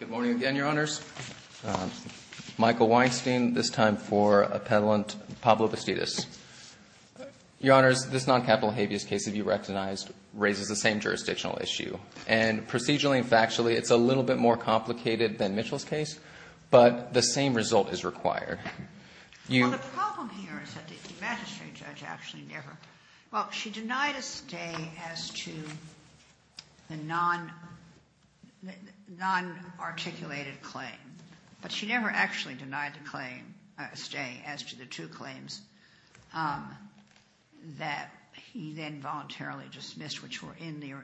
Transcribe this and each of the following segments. Good morning again, Your Honors. Michael Weinstein, this time for Appellant Pablo Bastidas. Your Honors, this non-capital habeas case of you recognized raises the same jurisdictional issue. And procedurally and factually, it's a little bit more complicated than Mitchell's case, but the same result is required. Well, the problem here is that the magistrate judge actually never – well, she denied a stay as to the non-articulated claim. But she never actually denied the claim – stay as to the two claims that he then voluntarily dismissed which were in the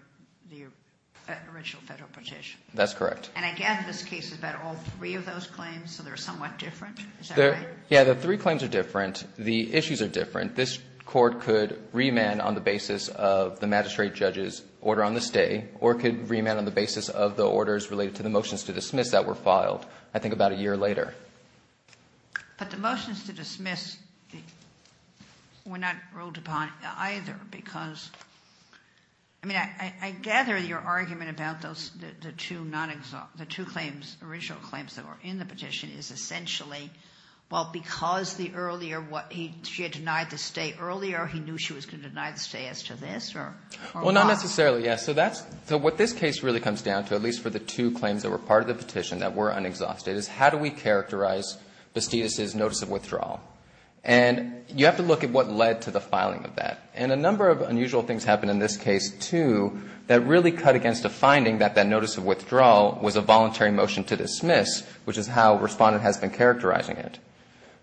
original federal petition. That's correct. And I gather this case is about all three of those claims, so they're somewhat different. Is that right? Yeah, the three claims are different. The issues are different. This court could remand on the basis of the magistrate judge's order on the stay or it could remand on the basis of the orders related to the motions to dismiss that were filed I think about a year later. But the motions to dismiss were not ruled upon either because – I mean, I gather your argument about the two original claims that were in the petition is essentially, well, because she had denied the stay earlier, he knew she was going to deny the stay as to this or what? Well, not necessarily, yes. So what this case really comes down to, at least for the two claims that were part of the petition that were unexhausted, is how do we characterize Bastidas' notice of withdrawal? And you have to look at what led to the filing of that. And a number of unusual things happened in this case too that really cut against a finding that that notice of withdrawal was a voluntary motion to dismiss, which is how Respondent has been characterizing it.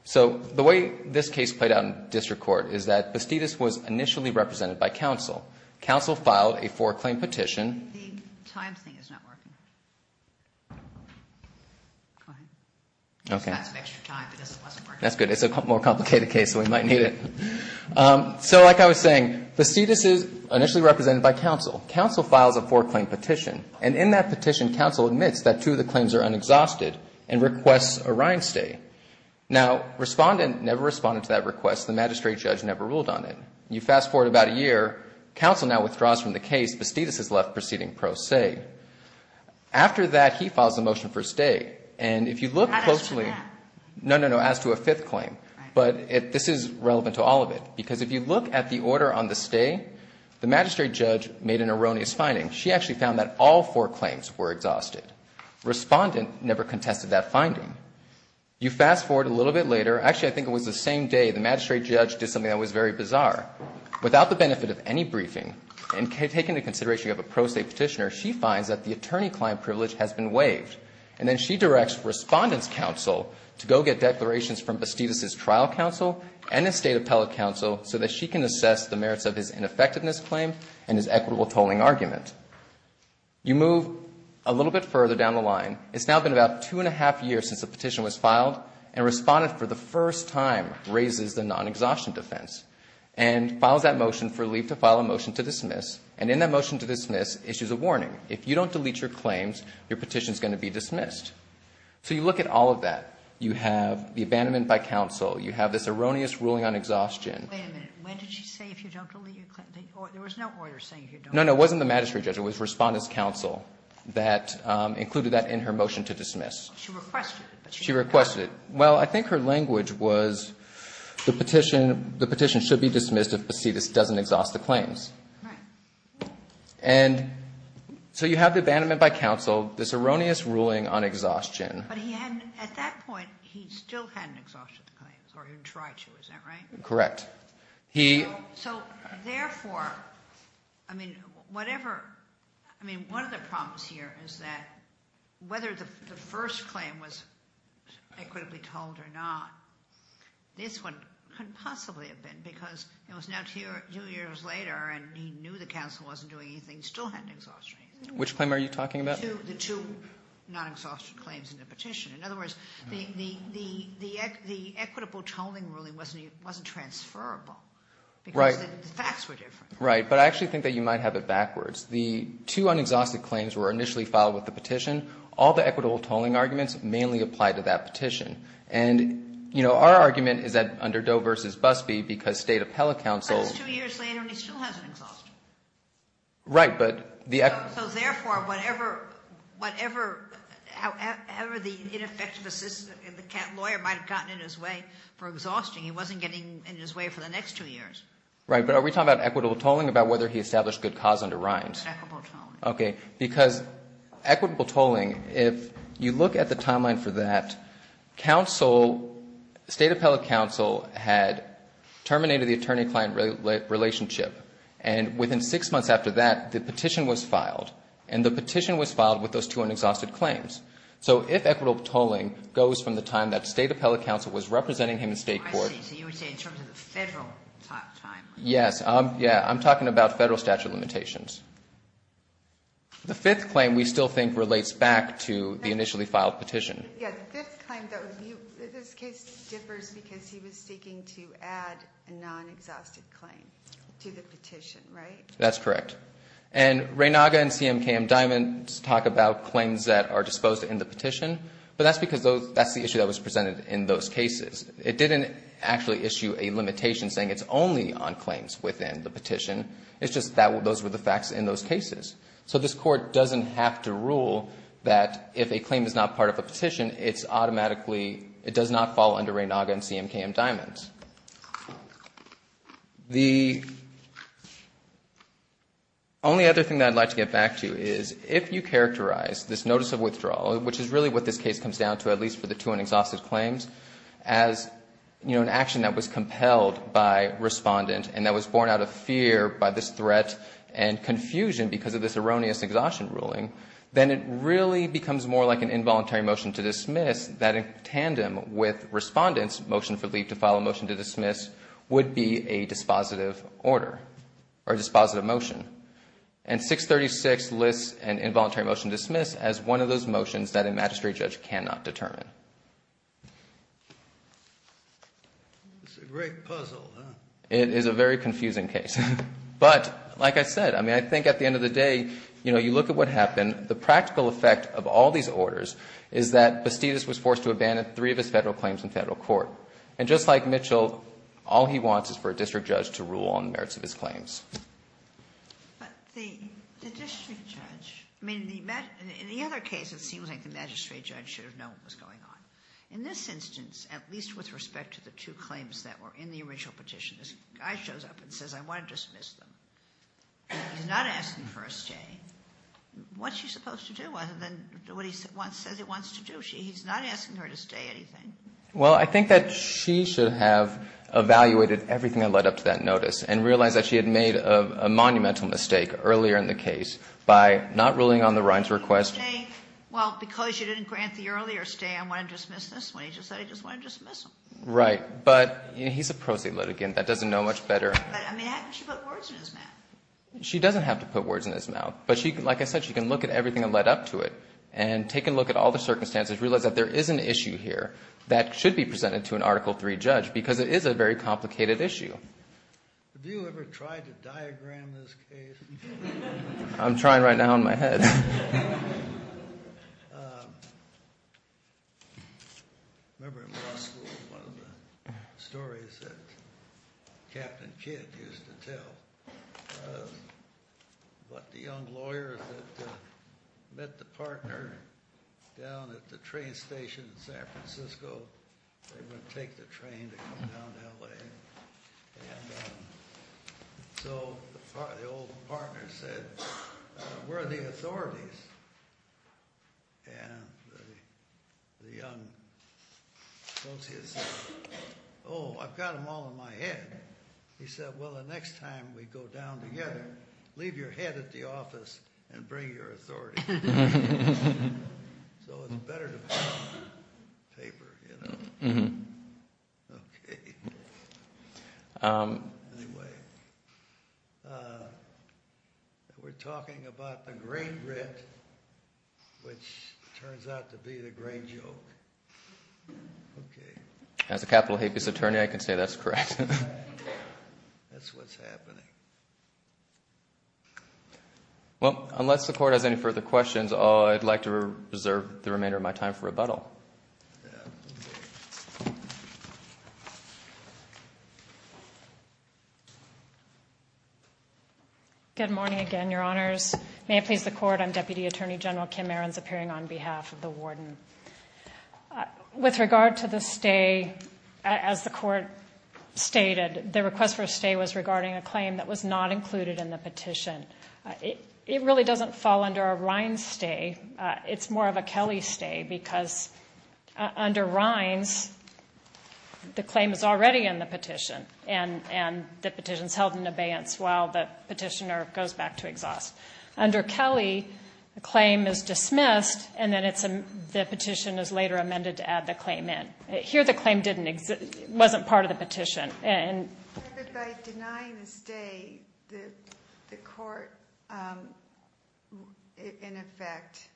So the way this case played out in district court is that Bastidas was initially represented by counsel. Counsel filed a four-claim petition. The time thing is not working. Go ahead. Okay. It's got some extra time because it wasn't working. That's good. It's a more complicated case, so we might need it. So like I was saying, Bastidas is initially represented by counsel. Counsel files a four-claim petition. And in that petition, counsel admits that two of the claims are unexhausted and requests a rind stay. Now, Respondent never responded to that request. The magistrate judge never ruled on it. You fast-forward about a year. Counsel now withdraws from the case. Bastidas is left proceeding pro se. After that, he files a motion for stay. And if you look closely. Not as to that. No, no, no, as to a fifth claim. But this is relevant to all of it. Because if you look at the order on the stay, the magistrate judge made an erroneous finding. She actually found that all four claims were exhausted. Respondent never contested that finding. You fast-forward a little bit later. Actually, I think it was the same day the magistrate judge did something that was very bizarre. Without the benefit of any briefing and taking into consideration you have a pro se petitioner, she finds that the attorney-client privilege has been waived. And then she directs Respondent's counsel to go get declarations from Bastidas' trial counsel and his state appellate counsel so that she can assess the merits of his ineffectiveness claim and his equitable tolling argument. You move a little bit further down the line. It's now been about two and a half years since the petition was filed. And Respondent for the first time raises the non-exhaustion defense and files that motion for leave to file a motion to dismiss. And in that motion to dismiss issues a warning. If you don't delete your claims, your petition is going to be dismissed. So you look at all of that. You have the abandonment by counsel. You have this erroneous ruling on exhaustion. Wait a minute. When did she say if you don't delete your claims? There was no order saying you don't. No, no. It wasn't the magistrate judge. It was Respondent's counsel that included that in her motion to dismiss. She requested it. She requested it. Well, I think her language was the petition should be dismissed if Bastidas doesn't exhaust the claims. Right. And so you have abandonment by counsel, this erroneous ruling on exhaustion. But he hadn't at that point, he still hadn't exhausted the claims or he tried to. Is that right? Correct. So, therefore, I mean, whatever. I mean, one of the problems here is that whether the first claim was equitably told or not, this one couldn't possibly have been because it was now two years later and he knew the counsel wasn't doing anything, he still hadn't exhausted anything. Which claim are you talking about? The two non-exhaustion claims in the petition. In other words, the equitable tolling ruling wasn't transferable. Right. Because the facts were different. Right. But I actually think that you might have it backwards. The two unexhausted claims were initially filed with the petition. All the equitable tolling arguments mainly applied to that petition. And, you know, our argument is that under Doe versus Busbee because State Appellate Counsel. But it's two years later and he still hasn't exhausted it. Right, but the. So, therefore, whatever the ineffective assistant and the lawyer might have gotten in his way for exhausting, he wasn't getting in his way for the next two years. Right, but are we talking about equitable tolling, about whether he established good cause under Reins? Equitable tolling. Okay, because equitable tolling, if you look at the timeline for that, counsel, State Appellate Counsel had terminated the attorney-client relationship. And within six months after that, the petition was filed. And the petition was filed with those two unexhausted claims. So if equitable tolling goes from the time that State Appellate Counsel was representing him in state court. I see. So you would say in terms of the federal timeline. Yes. Yeah, I'm talking about federal statute limitations. The fifth claim we still think relates back to the initially filed petition. Yeah, the fifth claim, this case differs because he was seeking to add a non-exhausted claim to the petition, right? That's correct. And Reynaga and CMKM Diamonds talk about claims that are disposed in the petition. But that's because that's the issue that was presented in those cases. It didn't actually issue a limitation saying it's only on claims within the petition. It's just that those were the facts in those cases. So this court doesn't have to rule that if a claim is not part of a petition, it's automatically, it does not fall under Reynaga and CMKM Diamonds. The only other thing that I'd like to get back to is if you characterize this notice of withdrawal, which is really what this case comes down to, at least for the two unexhausted claims, as, you know, an action that was compelled by Respondent and that was born out of fear by this threat and confusion because of this erroneous exhaustion ruling, then it really becomes more like an involuntary motion to dismiss that in tandem with Respondent's motion for leave to file a motion to dismiss would be a dispositive order or dispositive motion. And 636 lists an involuntary motion to dismiss as one of those motions that a magistrate judge cannot determine. It's a great puzzle, huh? It is a very confusing case. But, like I said, I mean, I think at the end of the day, you know, you look at what happened, the practical effect of all these orders is that Bastidas was like Mitchell, all he wants is for a district judge to rule on the merits of his claims. But the district judge, I mean, in the other case, it seems like the magistrate judge should have known what was going on. In this instance, at least with respect to the two claims that were in the original petition, this guy shows up and says, I want to dismiss them. He's not asking for a stay. What's he supposed to do? And then what he says he wants to do, he's not asking her to stay anything. Well, I think that she should have evaluated everything that led up to that notice and realized that she had made a monumental mistake earlier in the case by not ruling on the Rhine's request. Well, because you didn't grant the earlier stay, I want to dismiss this. When he just said he just wanted to dismiss them. Right. But he's a pro se litigant. That doesn't know much better. But, I mean, how could she put words in his mouth? She doesn't have to put words in his mouth. But, like I said, she can look at everything that led up to it and take a look at all the circumstances, realize that there is an issue here that should be presented to an Article III judge because it is a very complicated issue. Have you ever tried to diagram this case? I'm trying right now in my head. I remember in law school one of the stories that Captain Kidd used to tell about the young lawyers that met the partner down at the train station in San Francisco. They were going to take the train to come down to L.A. And so the old partner said, where are the authorities? And the young associate said, oh, I've got them all in my head. He said, well, the next time we go down together, leave your head at the office and bring your authority. So it's better to be on paper, you know. Okay. Anyway. We're talking about the grain writ, which turns out to be the grain joke. Okay. As a capital habeas attorney, I can say that's correct. That's what's happening. Well, unless the Court has any further questions, I'd like to reserve the remainder of my time for rebuttal. Good morning again, Your Honors. May it please the Court, I'm Deputy Attorney General Kim Ahrens, appearing on behalf of the Warden. With regard to the stay, as the Court stated, the request for a stay was regarding a claim that was not included in the petition. It really doesn't fall under a Rines stay. It's more of a Kelly stay because under Rines, the claim is already in the petition, and the petition is held in abeyance while the petitioner goes back to exhaust. Under Kelly, the claim is dismissed, and then the petition is later amended to add the claim in. Here, the claim wasn't part of the petition. By denying the stay, the Court, in effect,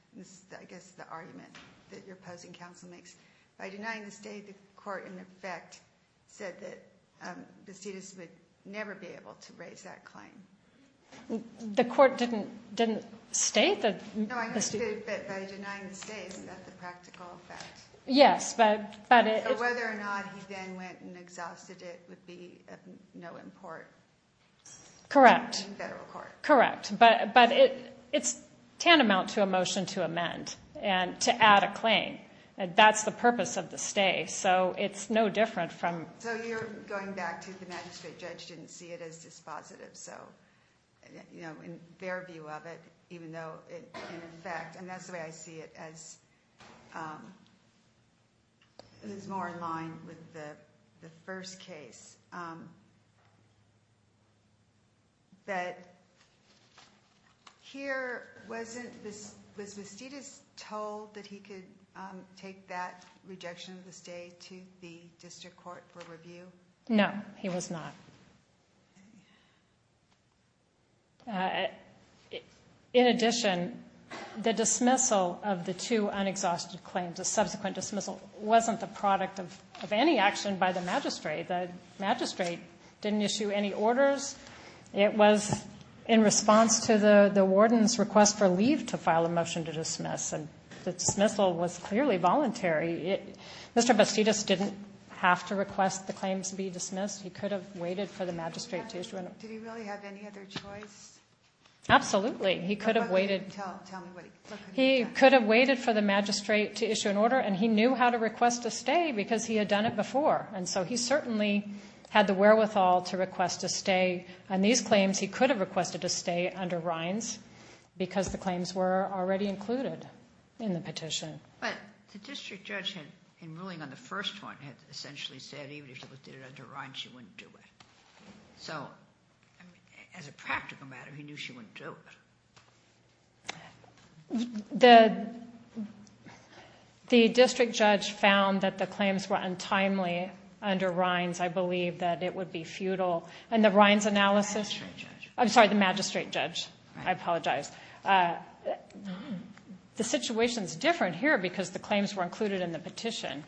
I guess the argument that your opposing counsel makes, by denying the stay, the Court, in effect, said that Bacidas would never be able to raise that claim. The Court didn't state that. No, I understood that by denying the stay, isn't that the practical effect? Yes, but it. So whether or not he then went and exhausted it would be of no import. Correct. In federal court. Correct, but it's tantamount to a motion to amend and to add a claim. That's the purpose of the stay, so it's no different from. So you're going back to the magistrate judge didn't see it as dispositive, so in their view of it, even though, in effect, and that's the way I see it as it is more in line with the first case. But here, was Bacidas told that he could take that rejection of the stay to the district court for review? No, he was not. In addition, the dismissal of the two unexhausted claims, the subsequent dismissal wasn't the product of any action by the magistrate. The magistrate didn't issue any orders. It was in response to the warden's request for leave to file a motion to dismiss, and the dismissal was clearly voluntary. Mr. Bacidas didn't have to request the claims be dismissed. He could have waited for the magistrate to issue an order. Did he really have any other choice? Absolutely. He could have waited. Tell me what he could have done. He could have waited for the magistrate to issue an order, and he knew how to request a stay because he had done it before, and so he certainly had the wherewithal to request a stay. On these claims, he could have requested a stay under Reins because the claims were already included in the petition. But the district judge, in ruling on the first one, had essentially said even if she did it under Reins, she wouldn't do it. So, as a practical matter, he knew she wouldn't do it. The district judge found that the claims were untimely under Reins. I believe that it would be futile. And the Reins analysis. The magistrate judge. I'm sorry, the magistrate judge. I apologize. The situation is different here because the claims were included in the petition,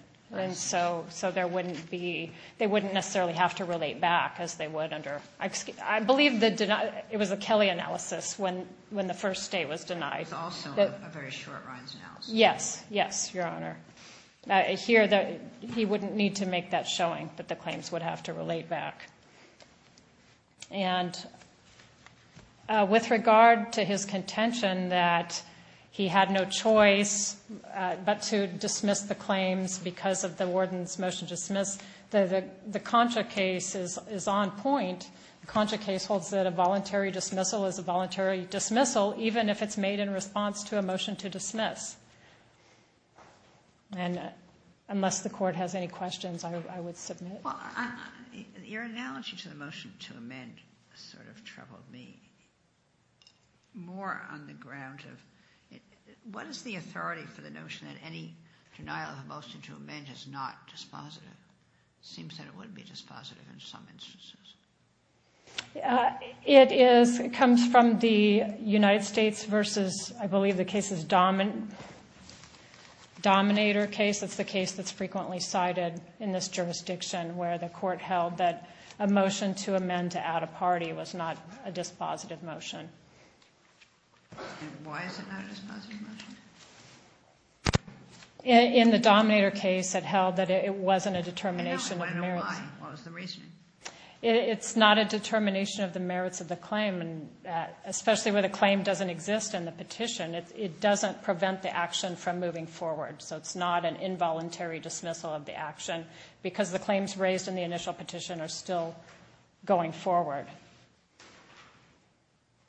so they wouldn't necessarily have to relate back as they would under Reins. I believe it was a Kelly analysis when the first stay was denied. It was also a very short Reins analysis. Yes. Yes, Your Honor. Here, he wouldn't need to make that showing that the claims would have to relate back. And with regard to his contention that he had no choice but to dismiss the claims because of the warden's motion to dismiss, the Concha case is on point. The Concha case holds that a voluntary dismissal is a voluntary dismissal, even if it's made in response to a motion to dismiss. And unless the court has any questions, I would submit. Your analogy to the motion to amend sort of troubled me more on the ground of what is the authority for the notion that any denial of a motion to amend is not dispositive? It seems that it would be dispositive in some instances. It is. It comes from the United States versus, I believe the case is Dominator case. It's the case that's frequently cited in this jurisdiction where the court held that a motion to amend to add a party was not a dispositive motion. And why is it not a dispositive motion? In the Dominator case, it held that it wasn't a determination of merits. I know why. What was the reason? It's not a determination of the merits of the claim, especially where the claim doesn't exist in the petition. It doesn't prevent the action from moving forward. So it's not an involuntary dismissal of the action because the claims raised in the initial petition are still going forward.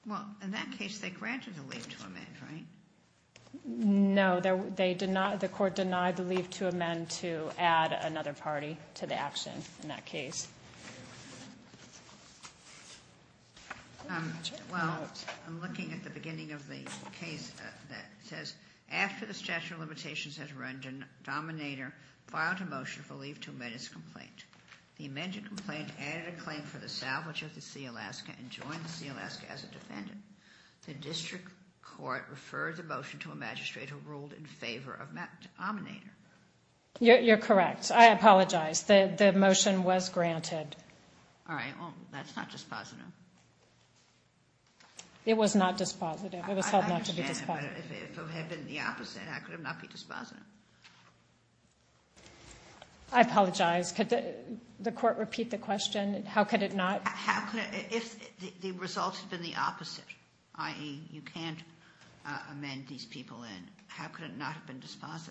Well, in that case, they granted the leave to amend, right? No. The court denied the leave to amend to add another party to the action in that case. Well, I'm looking at the beginning of the case that says, after the statute of limitations has run, Dominator filed a motion for leave to amend its complaint. The amended complaint added a claim for the salvage of the Sea of Alaska and joined the Sea of Alaska as a defendant. The district court referred the motion to a magistrate who ruled in favor of Dominator. You're correct. I apologize. The motion was granted. All right. Well, that's not dispositive. It was not dispositive. It was held not to be dispositive. I understand, but if it had been the opposite, how could it not be dispositive? I apologize. Could the court repeat the question? How could it not? If the result had been the opposite, i.e., you can't amend these people in, how could it not have been dispositive?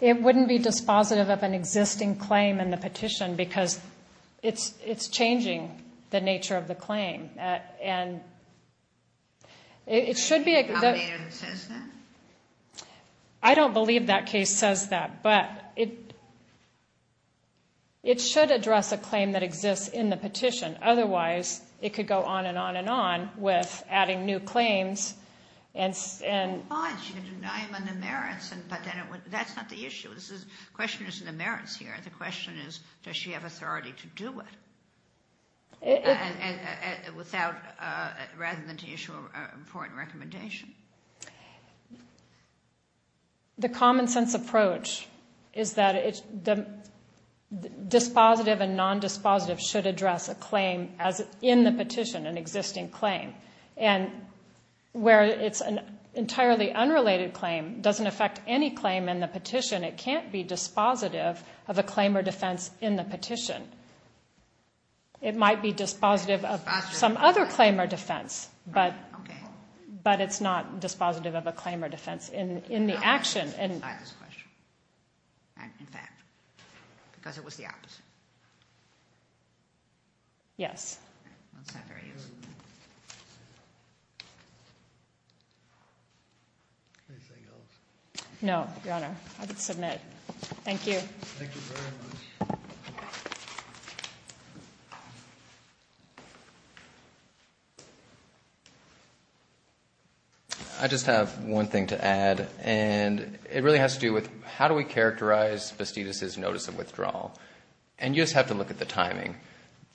It wouldn't be dispositive of an existing claim in the petition because it's changing the nature of the claim. And it should be a good thing. Is there a Dominator that says that? I don't believe that case says that, but it should address a claim that exists in the petition. Otherwise, it could go on and on and on with adding new claims. You can deny them on the merits, but that's not the issue. The question isn't the merits here. The question is, does she have authority to do it, rather than to issue a report and recommendation? The common-sense approach is that dispositive and non-dispositive should address a claim in the petition, an existing claim. And where it's an entirely unrelated claim doesn't affect any claim in the petition. It can't be dispositive of a claim or defense in the petition. It might be dispositive of some other claim or defense, but it's not dispositive of a claim or defense in the action. I have this question. In fact, because it was the opposite. Yes. That's not very useful. Anything else? No, Your Honor. I would submit. Thank you. Thank you very much. I just have one thing to add, and it really has to do with how do we characterize Bastidas' notice of withdrawal. And you just have to look at the timing.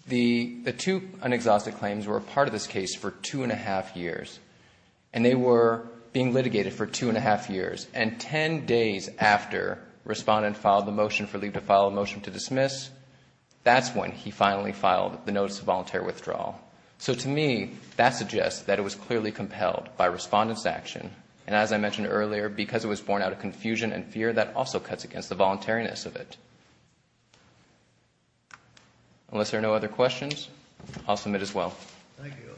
The two unexhausted claims were a part of this case for two and a half years, and they were being litigated for two and a half years. And ten days after Respondent filed the motion for leave to file a motion to dismiss, that's when he finally filed the notice of voluntary withdrawal. So to me, that suggests that it was clearly compelled by Respondent's action. And as I mentioned earlier, because it was born out of confusion and fear, that also cuts against the voluntariness of it. Unless there are no other questions, I'll submit as well. Thank you.